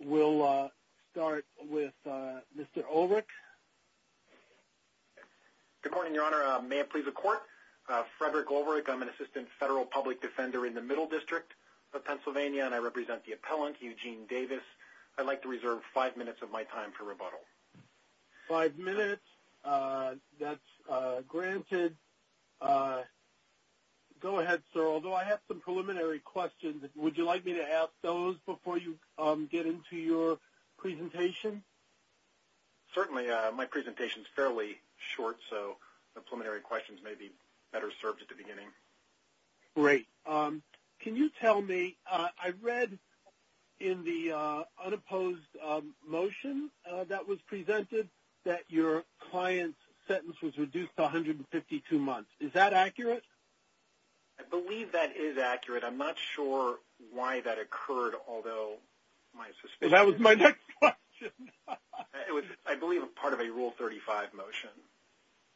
We'll start with Mr. Ulrich. Good morning, Your Honor. May it please the Court? Frederick Ulrich. I'm an assistant federal public defender in the Middle District of Pennsylvania and I represent the appellant, Eugene Davis. I'd like to reserve five minutes of my time for rebuttal. Five minutes. That's granted. Go ahead, sir. Although I have some preliminary questions, would you like me to ask those before you get into your presentation? Certainly. My presentation is fairly short, so the preliminary questions may be better served at the beginning. Great. Can you tell me, I read in the unopposed motion that was presented that your client's sentence was reduced to 152 months. Is that occurred, although my assistant... That was my next question. It was, I believe, a part of a Rule 35 motion.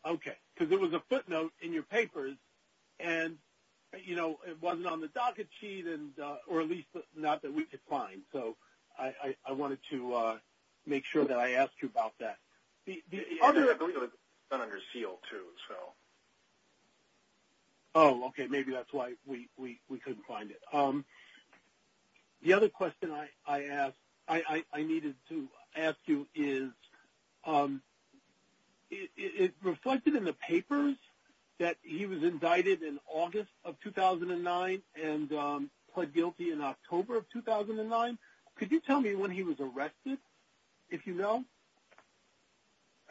Okay, because it was a footnote in your papers and, you know, it wasn't on the docket sheet and, or at least not that we could find. So I wanted to make sure that I asked you about that. I believe it was done under seal too, so. Oh, okay, maybe that's why we couldn't find it. The other question I asked, I needed to ask you is, it reflected in the papers that he was indicted in August of 2009 and pled guilty in October of 2009. Could you tell me when he was arrested, if you know?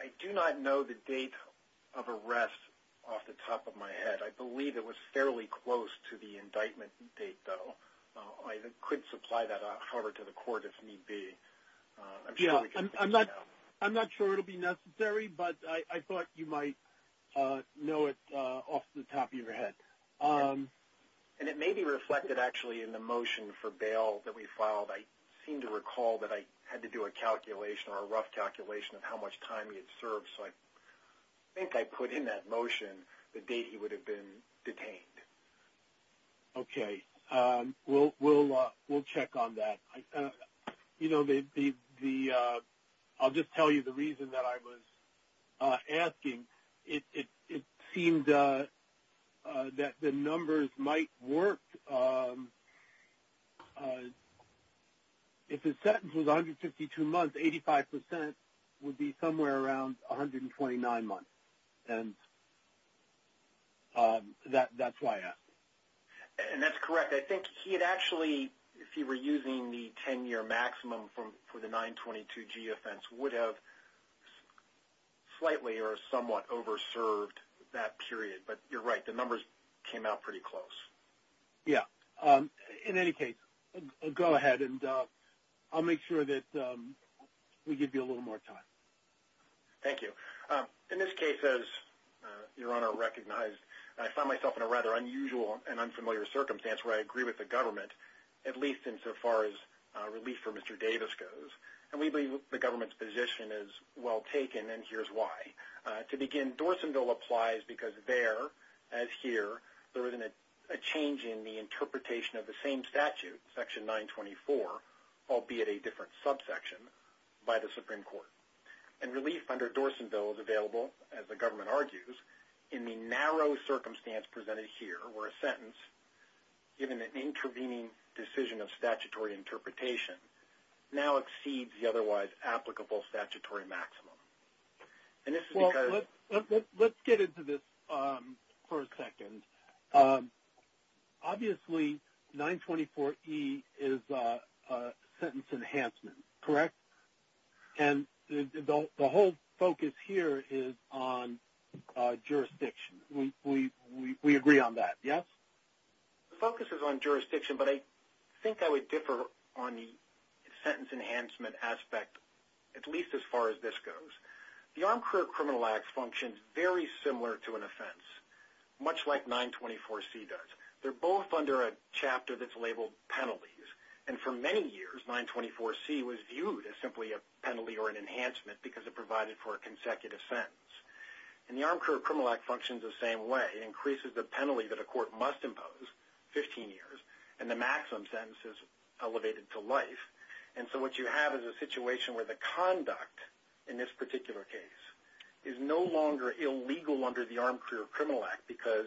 I do not know the date of arrest off the top of my head. I believe it was fairly close to the indictment date, though. I could supply that out, however, to the court if need be. Yeah, I'm not sure it'll be necessary, but I thought you might know it off the top of your head. And it may be reflected, actually, in the motion for bail that we filed. I seem to recall that I had to do a calculation or a rough calculation of how much time he had served, so I think I put in that motion the date he would have been detained. Okay, we'll check on that. You know, I'll just tell you the reason that I was asking. It seemed that the numbers might work. If his sentence was 152 months, 85 percent would be somewhere around 129 months, and that's why I asked. And that's correct. I think he had actually, if he were using the 10-year maximum for the 922-G offense, would have slightly or somewhat over-served that period, but you're right, the numbers came out pretty close. Yeah, in any case, go ahead and I'll make sure that we give you a little more time. Thank you. In this case, as Your Honor recognized, I find myself in a rather unusual and unfamiliar circumstance where I agree with the government, at least insofar as relief for Mr. Davis goes. And we believe the government's position is well taken, and here's why. To begin, Dorsonville applies because there, as here, there isn't a change in the interpretation of same statute, Section 924, albeit a different subsection by the Supreme Court. And relief under Dorsonville is available, as the government argues, in the narrow circumstance presented here, where a sentence, given an intervening decision of statutory interpretation, now exceeds the otherwise applicable statutory maximum. Let's get into this for a second. Obviously, 924-E is a sentence enhancement, correct? And the whole focus here is on jurisdiction. We agree on that, yes? The focus is on jurisdiction, but I think I would differ on the sentence enhancement aspect, at least as far as this goes. The Armed Career Criminal Act functions very similar to an offense, much like 924-C does. They're both under a chapter that's labeled penalties, and for many years, 924-C was viewed as simply a penalty or an enhancement because it provided for a consecutive sentence. And the Armed Career Criminal Act functions the same way. It increases the penalty that a court must impose, 15 years, and the maximum sentence is elevated to life. And so what you have is a situation where the conduct, in this particular case, is no longer illegal under the Armed Career Criminal Act because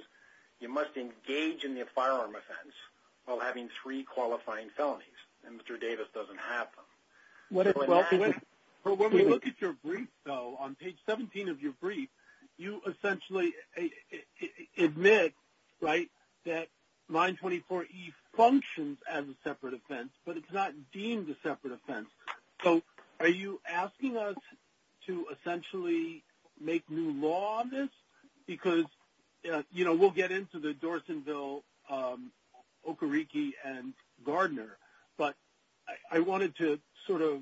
you must engage in the firearm offense while having three qualifying felonies, and Mr. Davis doesn't have them. When we look at your brief, though, on page 17 of your brief, you essentially admit, right, that 924-E functions as a separate offense, but it's not deemed a separate offense. So are you asking us to essentially make new law on this? Because, you know, we'll get into the Dorsonville, Okariki, and Gardner, but I wanted to sort of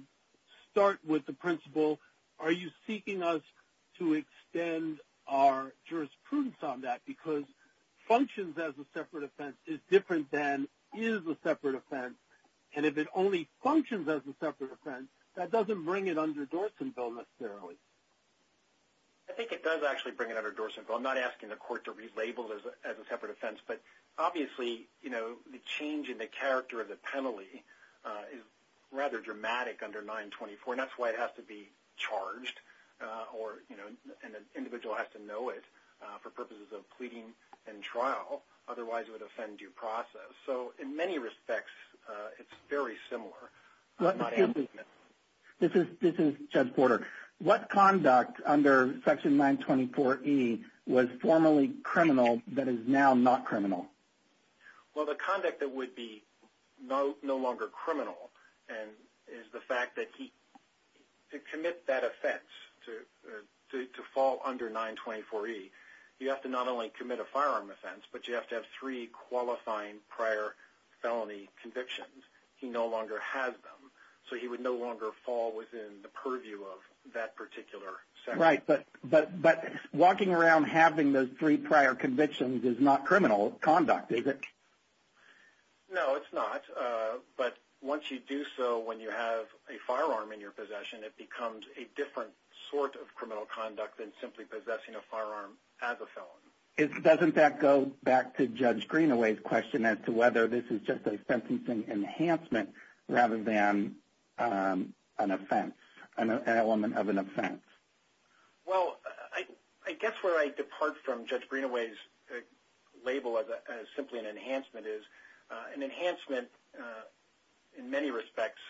start with the principle, are you seeking us to extend our jurisprudence on that? Because functions as a separate offense is different than is a separate offense, and if it only functions as a separate offense, that doesn't bring it under Dorsonville necessarily. I think it does actually bring it under Dorsonville. I'm not asking the court to relabel it as a separate offense, but obviously, you know, the change in the character of the penalty is rather dramatic under 924, and that's why it has to be charged, or, you know, an individual has to know it for purposes of pleading and trial. Otherwise, it would offend due process. So in many respects, it's very similar. This is Judge Porter. What conduct under Section 924-E was formerly criminal that is now not criminal? Well, the conduct that would be no longer criminal is the fact that he, to commit that offense, to fall under 924-E, you have to not only commit a firearm offense, but you have to have three qualifying prior felony convictions. He no longer has them, so he would no longer fall within the purview of that particular section. Right, but walking around having those three prior convictions is not criminal conduct, is it? No, it's not, but once you do so, when you have a firearm in your possession, it becomes a different sort of criminal conduct than simply possessing a firearm as a felon. Doesn't that go back to Judge Greenaway's question as to whether this is just a sentencing enhancement rather than an offense, an element of an offense? Well, I guess where I depart from Judge Greenaway's label as simply an enhancement is an enhancement in many respects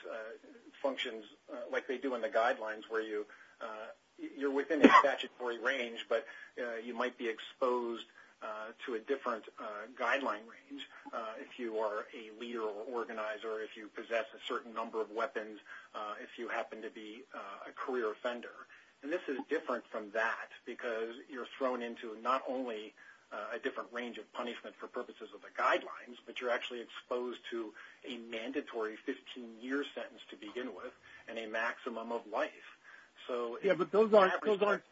functions like they do in the guidelines where you're within a statutory range, but you might be exposed to a different guideline range if you are a leader or organizer, if you possess a certain number of weapons, if you happen to be a career offender. And this is different from that because you're thrown into not only a different range of punishment for purposes of the guidelines, but you're actually exposed to a mandatory 15-year sentence to begin with and a maximum of life. So, yeah, but those aren't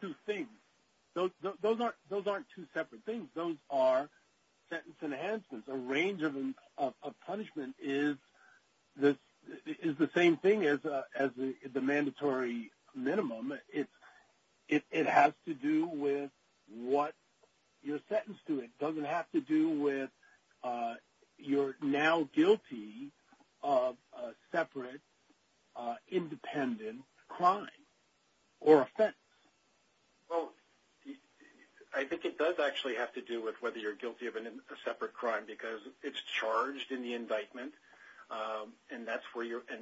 two things. Those aren't two separate things. Those are sentence enhancements. A range of punishment is the same thing as the mandatory minimum. It has to do with what you're sentenced to. It does actually have to do with whether you're guilty of a separate crime because it's charged in the indictment and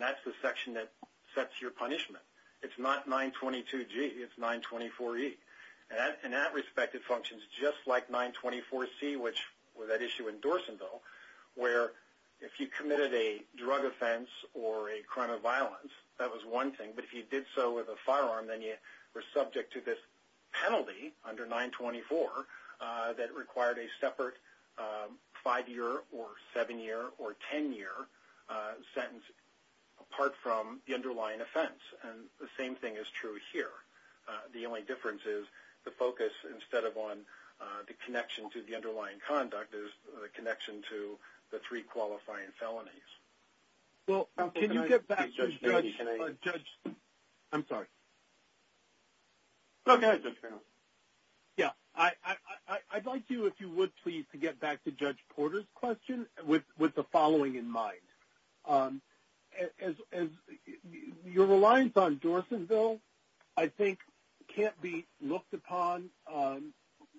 that's the section that sets your punishment. It's not 922G, it's 924E. And in that respect, it functions just like 924C, that issue in Dorsonville, where if you committed a drug offense or a crime of violence, that was one thing, but if you did so with a firearm, then you were subject to this penalty under 924 that required a separate five-year or seven-year or ten-year sentence apart from the underlying offense. And the same thing is true here. The only difference is the focus, instead of on the underlying conduct, is the connection to the three qualifying felonies. Well, can you get back to Judge Porter's question with the following in mind. Your reliance on Dorsonville, I think, can't be looked upon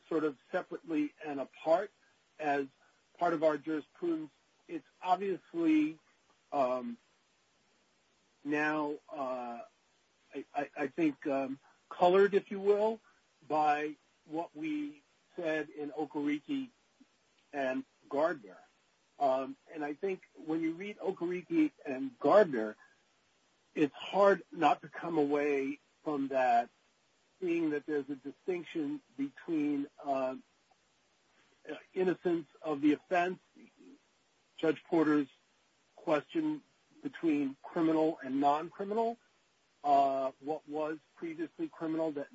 sort of separately and apart as part of our jurisprudence. It's obviously now, I think, colored, if you will, by what we said in Okariki and Gardner. And I think when you read Okariki and Gardner, it's hard not to come away from that, seeing that there's a distinction between innocence of the offense, Judge Porter's question between criminal and non-criminal, what was previously criminal that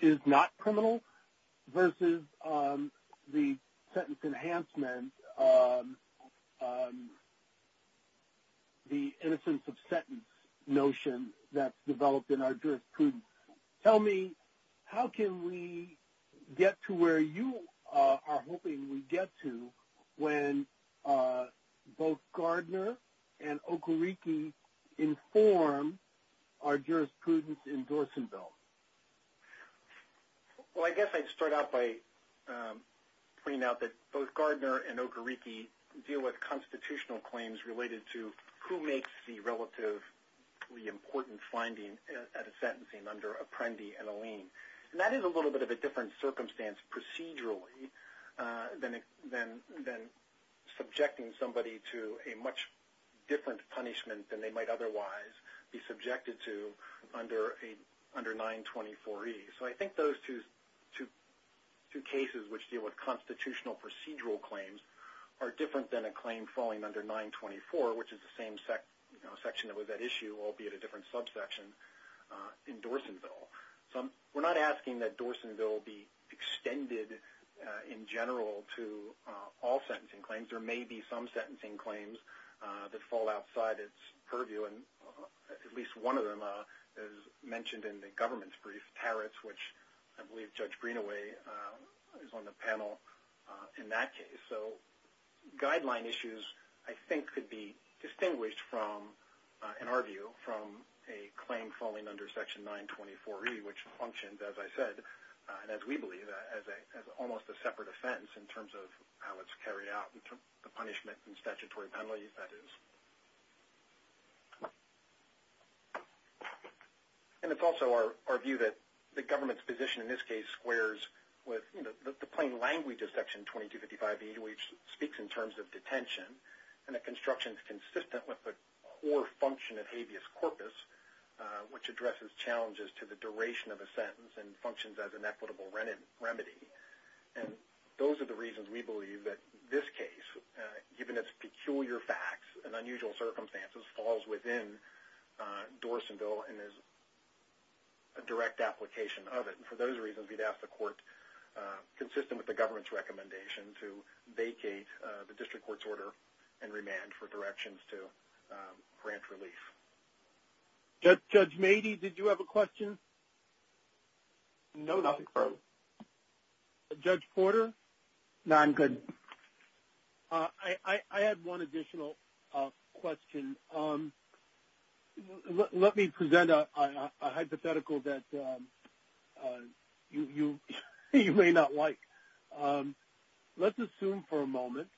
is not criminal, versus the sentence enhancement, the innocence of the offense. Tell me, how can we get to where you are hoping we get to when both Gardner and Okariki inform our jurisprudence in Dorsonville? Well, I guess I'd start out by pointing out that both Gardner and Okariki deal with constitutional claims related to who makes the relatively important finding at a sentencing under Apprendi and Alleen. And that is a little bit of a different circumstance procedurally than subjecting somebody to a much different punishment than they might otherwise be subjected to under 924E. So I think those two cases which deal with constitutional procedural claims are different than a claim falling under 924, which is the same section that was at issue, albeit a different subsection, in Dorsonville. So we're not asking that Dorsonville be extended in general to all sentencing claims. There may be some sentencing claims that fall outside its purview, and at least one of them is mentioned in the government's brief, Taritz, which I believe Judge Greenaway is on the panel in that case. So guideline issues, I think, could be distinguished from, in our view, from a claim falling under section 924E, which functions, as I said, and as we believe, as almost a separate offense in terms of how it's carried out, the punishment and statutory penalties, that is. And it's also our view that the government's position in this case squares with the plain language of section 2255E, which speaks in terms of detention, and the construction is consistent with the core function of habeas corpus, which addresses challenges to the duration of a sentence and functions as an equitable remedy. And those are the reasons we believe that this case, given its peculiar facts and unusual circumstances, falls within Dorsonville and is a direct application of it. And for those reasons, we'd ask the District Court's order and remand for directions to grant relief. Judge Mady, did you have a question? No. Judge Porter? No, I'm good. I had one additional question. Let me present a hypothetical that you may not like. Let's assume for a moment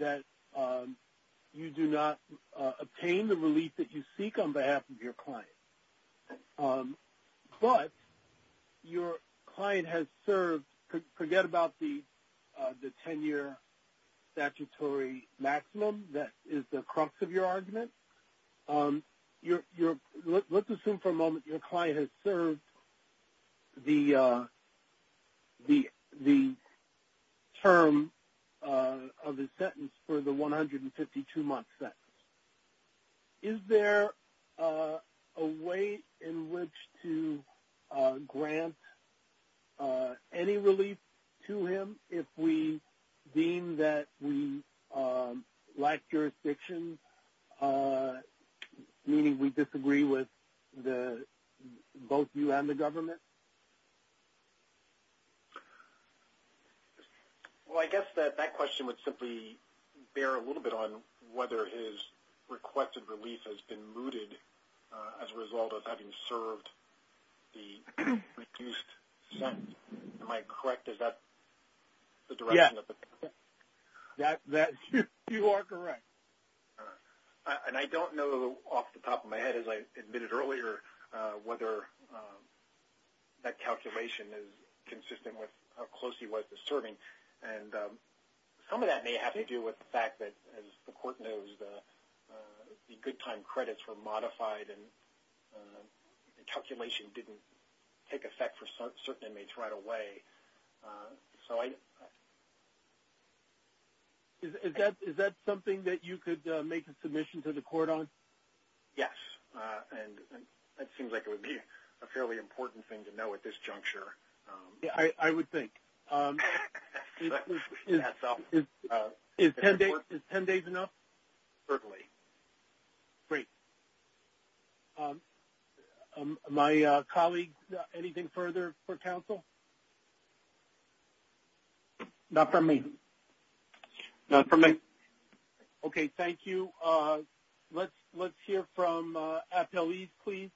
that you do not obtain the relief that you seek on behalf of your client, but your client has served, forget about the 10-year statutory maximum that is the crux of your argument, let's assume for a moment that you obtain the term of the sentence for the 152-month sentence. Is there a way in which to grant any relief to him if we deem that we lack jurisdiction, meaning we disagree with both you and the government? Well, I guess that that question would simply bear a little bit on whether his requested relief has been mooted as a result of having served the reduced sentence. Am I correct? Is that the direction? Yes, you are correct. And I don't know off the top of my head, as I admitted earlier, whether that calculation is consistent with how close he was to serving. And some of that may have to do with the fact that, as the Court knows, the good time credits were modified and the calculation didn't take effect for certain inmates right away. So I... Is that something that you could make a submission to the Court on? Yes, and that seems like it would be a fairly important thing to know at this juncture. Yeah, I would think. Is 10 days enough? Certainly. Great. My colleague, anything further for me? Okay, thank you. Let's hear from appellees, please.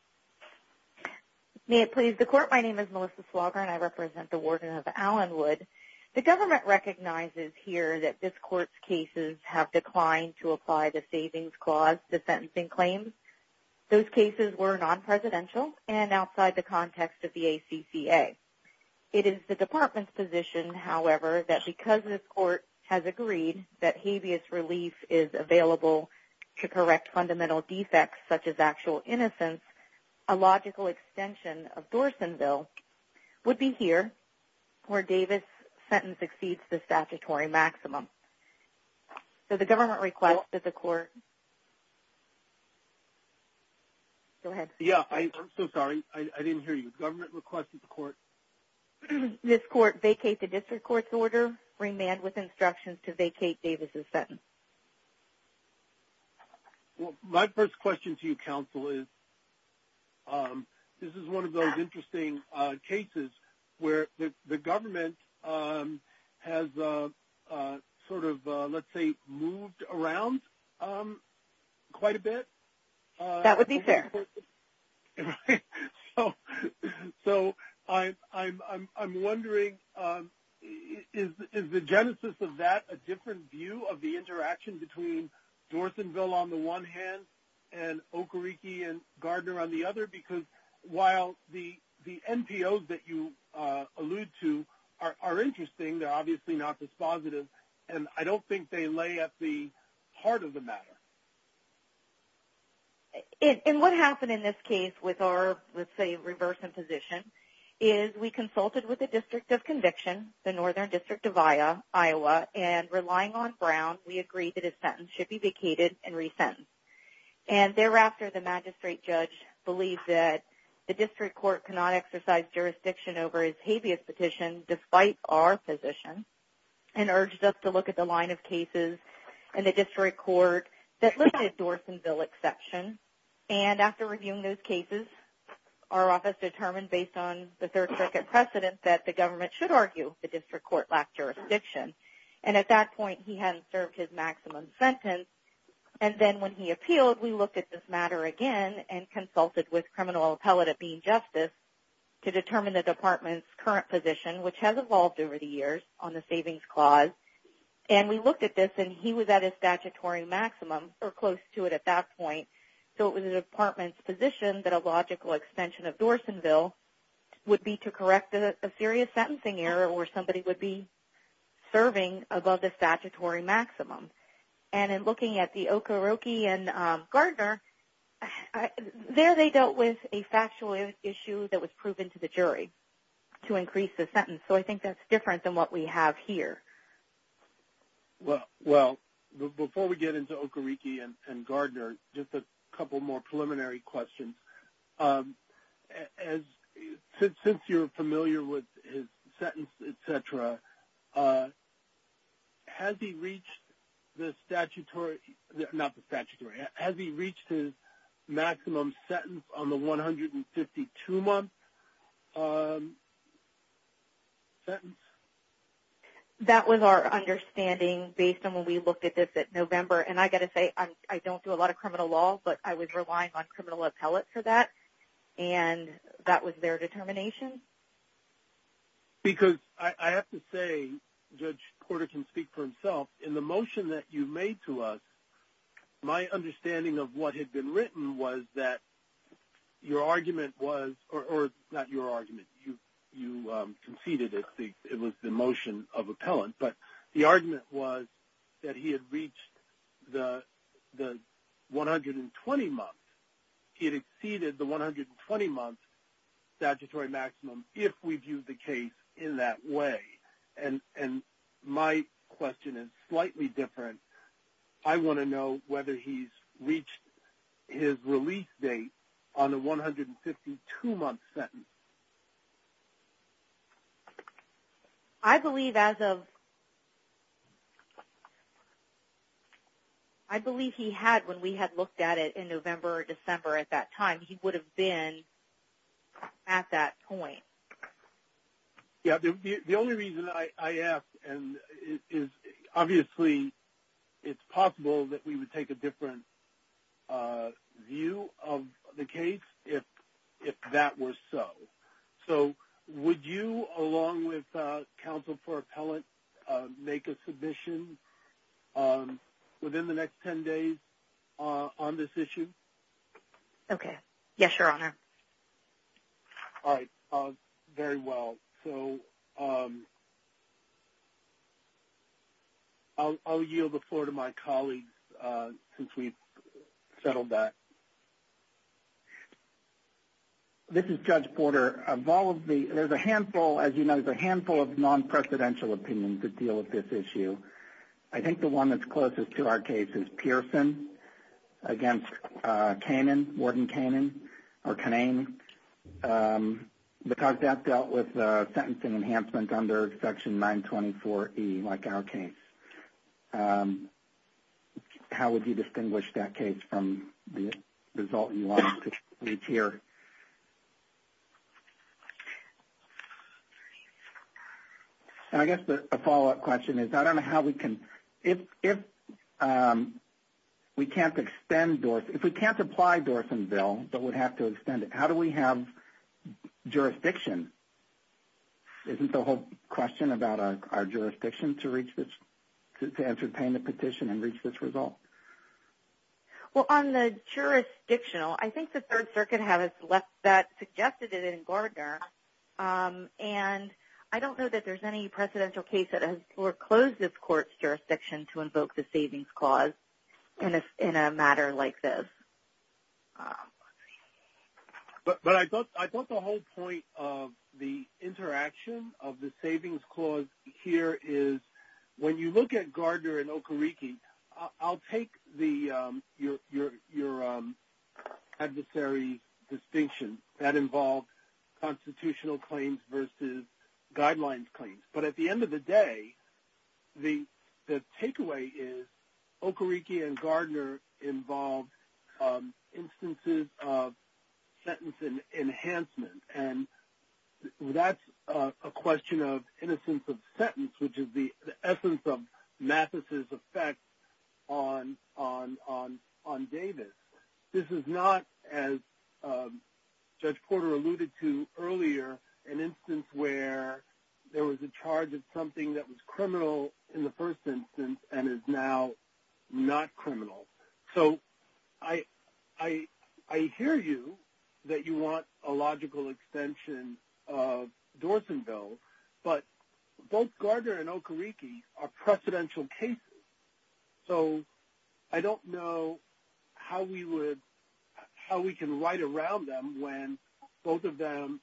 May it please the Court? My name is Melissa Swager and I represent the Warden of Allenwood. The government recognizes here that this Court's cases have declined to apply the Savings Clause to sentencing claims. Those cases were non-presidential and outside the context of the ACCA. It is the Department's position, however, that because this Court has agreed that habeas relief is available to correct fundamental defects, such as actual innocence, a logical extension of Dorsonville would be here, where Davis' sentence exceeds the statutory maximum. So the government requested the Court... Go ahead. Yeah, I'm so sorry, I didn't hear you. The government requested the Court... This Court vacate the District Court's order, remand with instructions to vacate Davis' sentence. Well, my first question to you, Counsel, is this is one of those interesting cases where the government has sort of, let's say, moved around quite a bit. That would be fair. So I'm wondering, is the genesis of that a different view of the interaction between Dorsonville on the one hand and Okariki and Gardner on the other? Because while the NPOs that you allude to are interesting, they're obviously not dispositive, and I don't think they lay at the heart of the matter. And what happened in this case with our, let's say, reverse imposition, is we consulted with the District of Conviction, the Northern District of Iowa, and relying on Brown, we agreed that his sentence should be vacated and resentenced. And thereafter, the magistrate judge believed that the District Court cannot exercise jurisdiction over his habeas petition, despite our position, and urged us to look at the line of cases in the District Court that listed Dorsonville exception. And after reviewing those cases, our office determined, based on the Third Circuit precedent, that the government should argue the District Court lacked jurisdiction. And at that point, he hadn't served his maximum sentence. And then when he appealed, we looked at this matter again and consulted with criminal appellate at Bean Justice to determine the department's current position, which has evolved over the years on the savings clause. And we looked at this, and he was at his statutory maximum, or close to it at that point. So it was the department's position that a logical extension of Dorsonville would be to correct a serious sentencing error where somebody would be serving above the statutory maximum. And in looking at the Okoriki and Gardner, there they dealt with a factual issue that was proven to the jury to increase the sentence. So I think that's different than what we have here. Well, before we get into Okoriki and Gardner, just a couple more preliminary questions. Since you're familiar with his sentence, etc., has he reached the statutory, not the statutory, has he reached his maximum sentence on the 152-month sentence? That was our understanding based on when we looked at this at November. And I got to say, I don't do a lot of criminal law, but I was relying on criminal appellate for that, and that was their determination. Because I have to say, Judge Porter can speak for himself, in the motion that you made to us, my understanding of what had been written was that your argument was, or not your argument, you conceded it was the motion of appellant, but the argument was that he had reached the 120-month. It exceeded the 120-month statutory maximum, if we viewed the case in that way. And my question is slightly different. I want to know whether he's reached his release date on the 152-month sentence. I believe as of, I believe he had, when we had looked at it in November or December at that time, he would have been at that point. Yeah, the only reason I asked, and is obviously, it's possible that we would take a different view of the case, if that were so. So would you, along with counsel for appellant, make a submission within the next 10 days on this issue? Okay, yes, your honor. All right, very well. So I'll yield the floor to my colleagues, since we've settled that. This is Judge Porter. Of all of the, there's a handful, as you know, there's a handful of non-presidential opinions that deal with this issue. I think the one that's closest to our case is Pearson, against Kanan, Warden Kanan, or Kanane. Because that dealt with sentencing enhancement under Section 924E, like our case. How would you distinguish that case from the result you want to reach here? I guess the follow-up question is, I don't know how we can, if we can't extend, if we can't apply Dorsonville, but would have to extend it, how do we have jurisdiction? Isn't the whole question about our jurisdiction to reach this, to entertain the petition and reach this result? Well, on the jurisdictional, I think the Third Circuit has left that, suggested it in Gardner. And I don't know that there's any presidential case that has foreclosed this court's jurisdiction to invoke the savings clause in a matter like this. But I thought the whole point of the interaction of the savings clause here is, when you look at Gardner and Okereke, I'll take the, your adversary distinction that involved constitutional claims versus guidelines claims. But at the end of the day, the takeaway is, Okereke and Gardner involved instances of sentence enhancement. And that's a question of innocence of sentence, which is the essence of Mathis's effect on Davis. This is not, as Judge Porter alluded to earlier, an instance where there was a charge of something that was I can hear you, that you want a logical extension of Dorsonville, but both Gardner and Okereke are presidential cases. So I don't know how we would, how we can write around them when both of them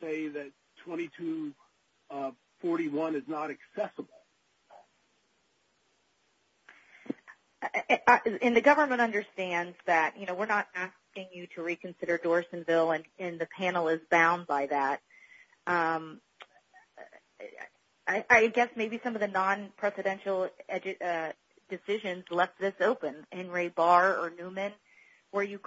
say that 2241 is not accessible. And the government understands that, you know, we're not asking you to reconsider Dorsonville, and the panel is bound by that. I guess maybe some of the non-presidential decisions left this open, Henry Barr or Newman, where you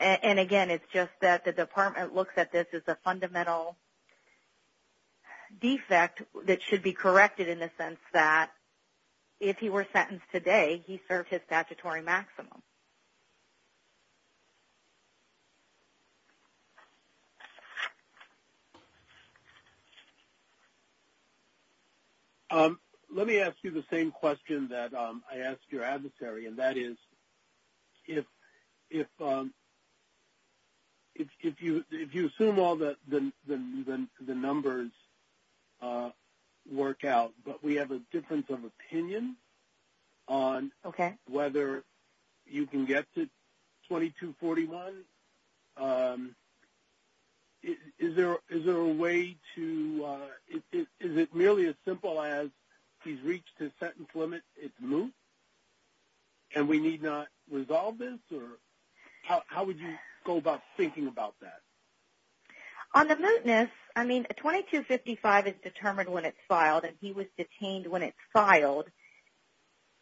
And again, it's just that the department looks at this as a fundamental defect that should be corrected in the sense that if he were sentenced today, he served his statutory maximum. Let me ask you the same question that I asked your adversary, and that is, if you assume all the numbers work out, but we have a difference of you can get to 2241, is there a way to, is it merely as simple as he's reached his sentence limit, it's moot, and we need not resolve this, or how would you go about thinking about that? On the mootness, I mean, 2255 is determined when it's filed, and he was detained when it's filed,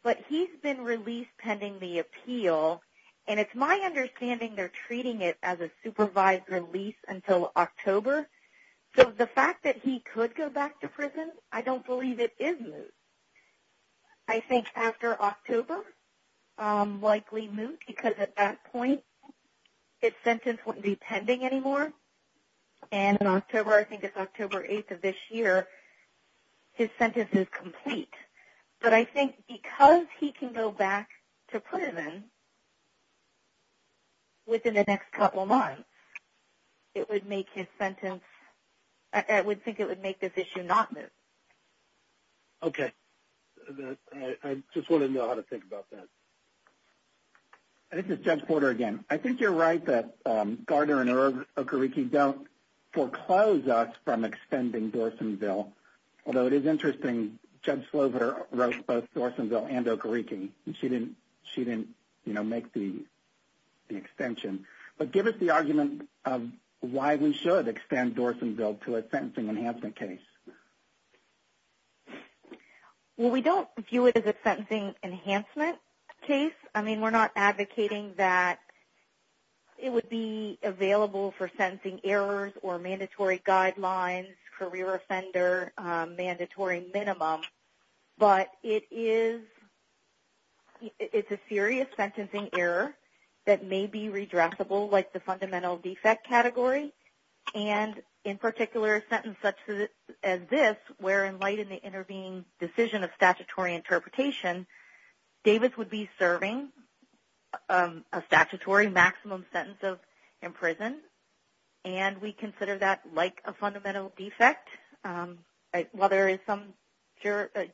but he's been released pending the appeal, and it's my understanding they're treating it as a supervised release until October, so the fact that he could go back to prison, I don't believe it is moot. I think after October, likely moot, because at that point, his sentence wouldn't be pending anymore, and in October, I think it's October 8th of this year, his sentence is complete, but I think because he can go back to prison within the next couple months, it would make his sentence, I would think it would make this issue not moot. Okay, I just want to know how to think about that. This is Judge Porter again. I think you're right that Gardner and Okereke don't foreclose us from extending Dorsonville, although it is interesting, Judge Slover wrote both Dorsonville and Okereke, and she didn't make the extension, but give us the argument of why we should extend Dorsonville to a sentencing enhancement case. Well, we don't view it as a sentencing enhancement case. I mean, we're not advocating that it would be available for sentencing errors or mandatory guidelines, career offender, mandatory minimum, but it is a serious sentencing error that may be redressable like the fundamental defect category, and in particular, a sentence such as this, where in light of the intervening decision of a statutory maximum sentence of imprisonment, and we consider that like a fundamental defect, while there is some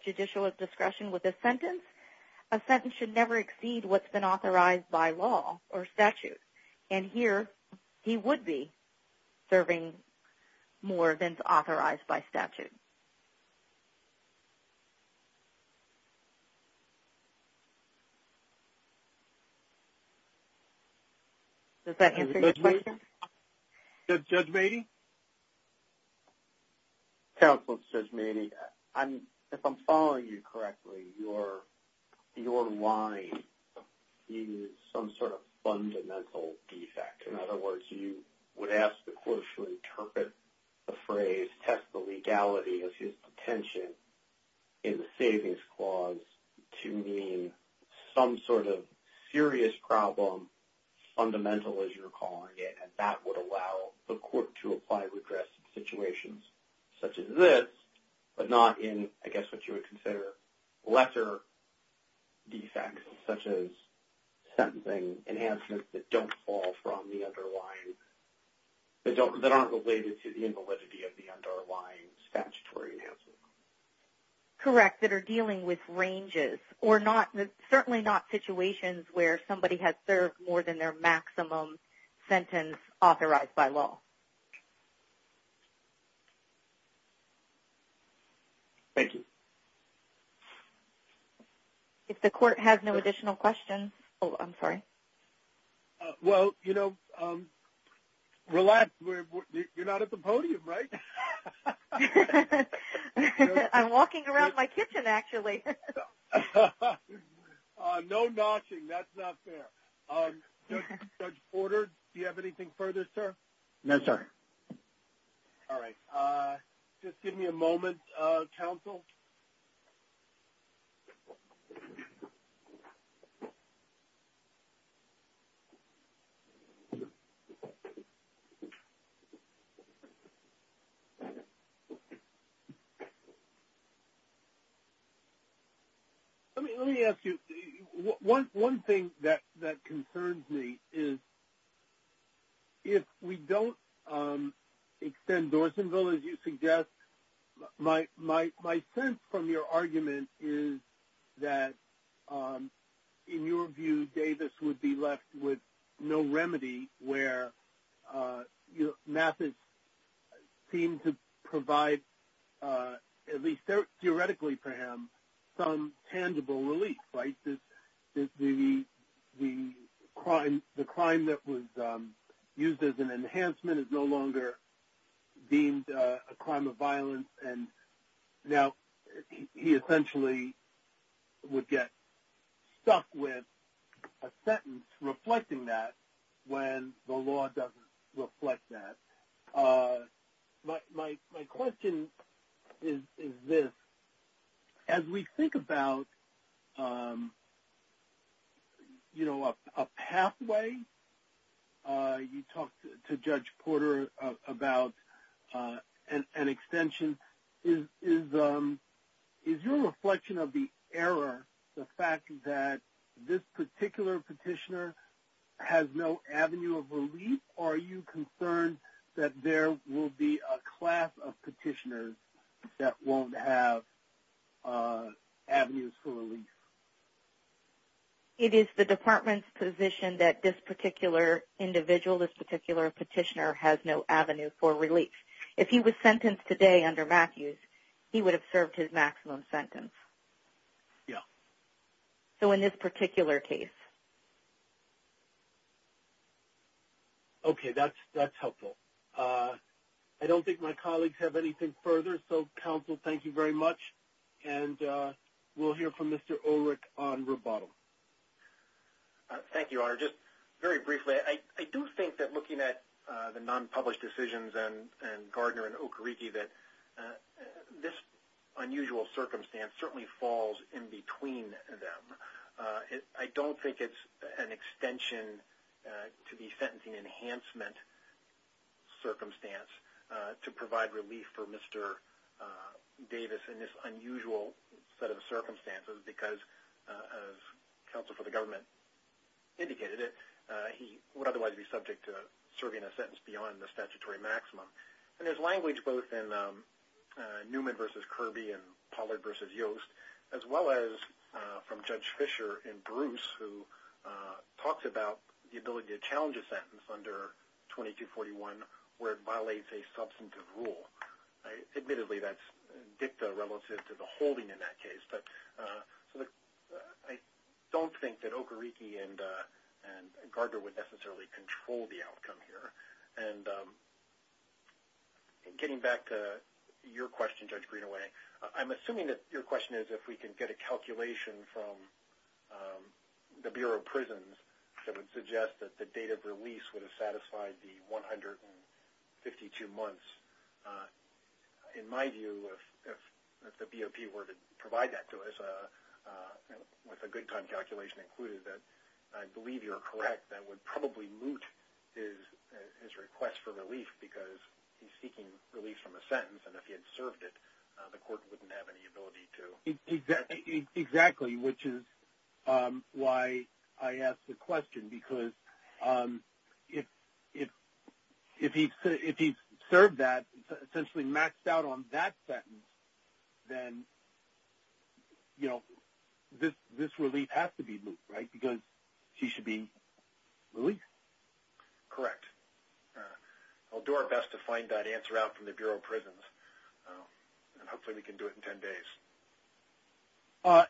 judicial discretion with this sentence, a sentence should never exceed what's been authorized by law or statute, and here he would be serving more than is authorized by statute. Does that answer your question? Judge Matey? Counsel, Judge Matey, if I'm following you correctly, your line is some sort of fundamental defect. In other words, you would ask the court to interpret the phrase, test the legality of his intention in the savings clause to mean some sort of serious problem, fundamental as you're calling it, and that would allow the court to apply redress in situations such as this, but not in, I guess, what you would consider lesser defects such as sentencing enhancements that don't fall from the underlying, that aren't related to the invalidity of the underlying statutory enhancement. Correct, that are dealing with ranges or not certainly not situations where somebody has served more than their maximum sentence authorized by law. Thank you. If the court has no additional questions, oh I'm sorry. Well, you know, relax, you're not at the podium, right? I'm walking around my kitchen, actually. No notching, that's not fair. Judge Porter, do you have anything further, sir? No, sir. All right, just give me a moment, counsel. Let me ask you, one thing that concerns me is, if we don't extend Dorsonville, as you suggest, my sense from your argument is that, in your view, Davis would be left with no remedy where Mathis seemed to provide, at least theoretically for him, some tangible relief, right? The crime that was used as an enhancement is no longer deemed a crime of violence, and now he essentially would get stuck with a sentence reflecting that when the law doesn't reflect that. My question is this, as we think about, you know, a pathway, you talked to Judge Porter about an extension, is your reflection of the error, the fact that this particular petitioner has no avenue of relief? Are you concerned that there will be a class of petitioners that won't have avenues for relief? It is the department's position that this particular individual, this particular petitioner, has no avenue for relief. If he was sentenced today under Mathis, he would have served his maximum sentence. Yeah. So in this particular case. Okay, that's helpful. I don't think my colleagues have anything further, so counsel, thank you very much, and we'll hear from Mr. Ulrich on rebuttal. Thank you, Honor. Just very briefly, I do think that looking at the non-published decisions and Gardner and Okereke, that this unusual circumstance certainly falls in between them. I don't think it's an extension to the sentencing enhancement circumstance to provide relief for Mr. Davis in this unusual set of circumstances, because as counsel for the government indicated it, he would otherwise be subject to serving a sentence beyond the statutory maximum. And there's language both in Newman v. Kirby and Pollard v. Yost, as well as from Judge Fisher in Bruce, who talks about the ability to challenge a sentence under 2241 where it violates a substantive rule. Admittedly, that's dicta relative to the holding in that case, but I don't think that Okereke and Gardner would necessarily control the outcome here. And getting back to your question, Judge Greenaway, I'm assuming that your question is if we can get a calculation from the Bureau of Prisons that would suggest that the date of release would have satisfied the 152 months. In my view, if the BOP were to I believe you're correct, that would probably moot his request for relief because he's seeking relief from a sentence, and if he had served it, the court wouldn't have any ability to. Exactly, which is why I asked the question, because if he's served that, essentially maxed out on that then, you know, this relief has to be moot, right? Because he should be released. Correct. I'll do our best to find that answer out from the Bureau of Prisons. Hopefully we can do it in 10 days.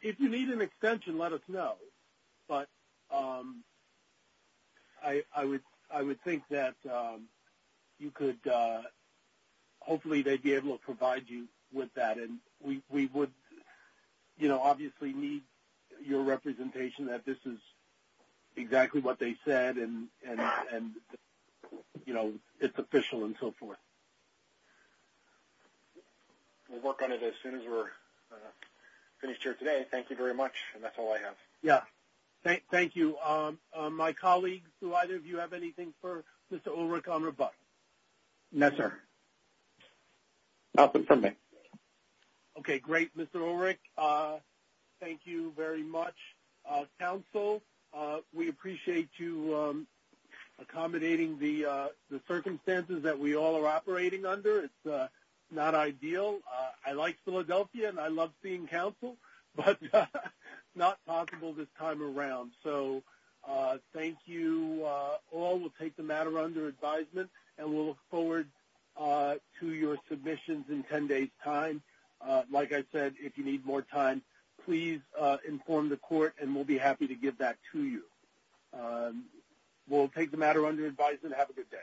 If you need an extension, let us know, but I would think that you could, hopefully they'd be able to provide you with that, and we would, you know, obviously need your representation that this is exactly what they said, and you know, it's official and so forth. We'll work on it as soon as we're finished here today. Thank you very much, and that's all I have. Yeah, thank you. My colleagues, do either of you have anything for Mr. Ulrich on rebuttal? No, sir. Nothing from me. Okay, great. Mr. Ulrich, thank you very much. Council, we appreciate you accommodating the circumstances that we all are operating under. It's not ideal. I like Philadelphia, and I love seeing council, but not possible this time around, so thank you all. We'll take the matter under advisement, and we'll look forward to your submissions in 10 days time. Like I said, if you need more time, please inform the court, and we'll be happy to give that to you. We'll take the matter under advisement. Have a good day.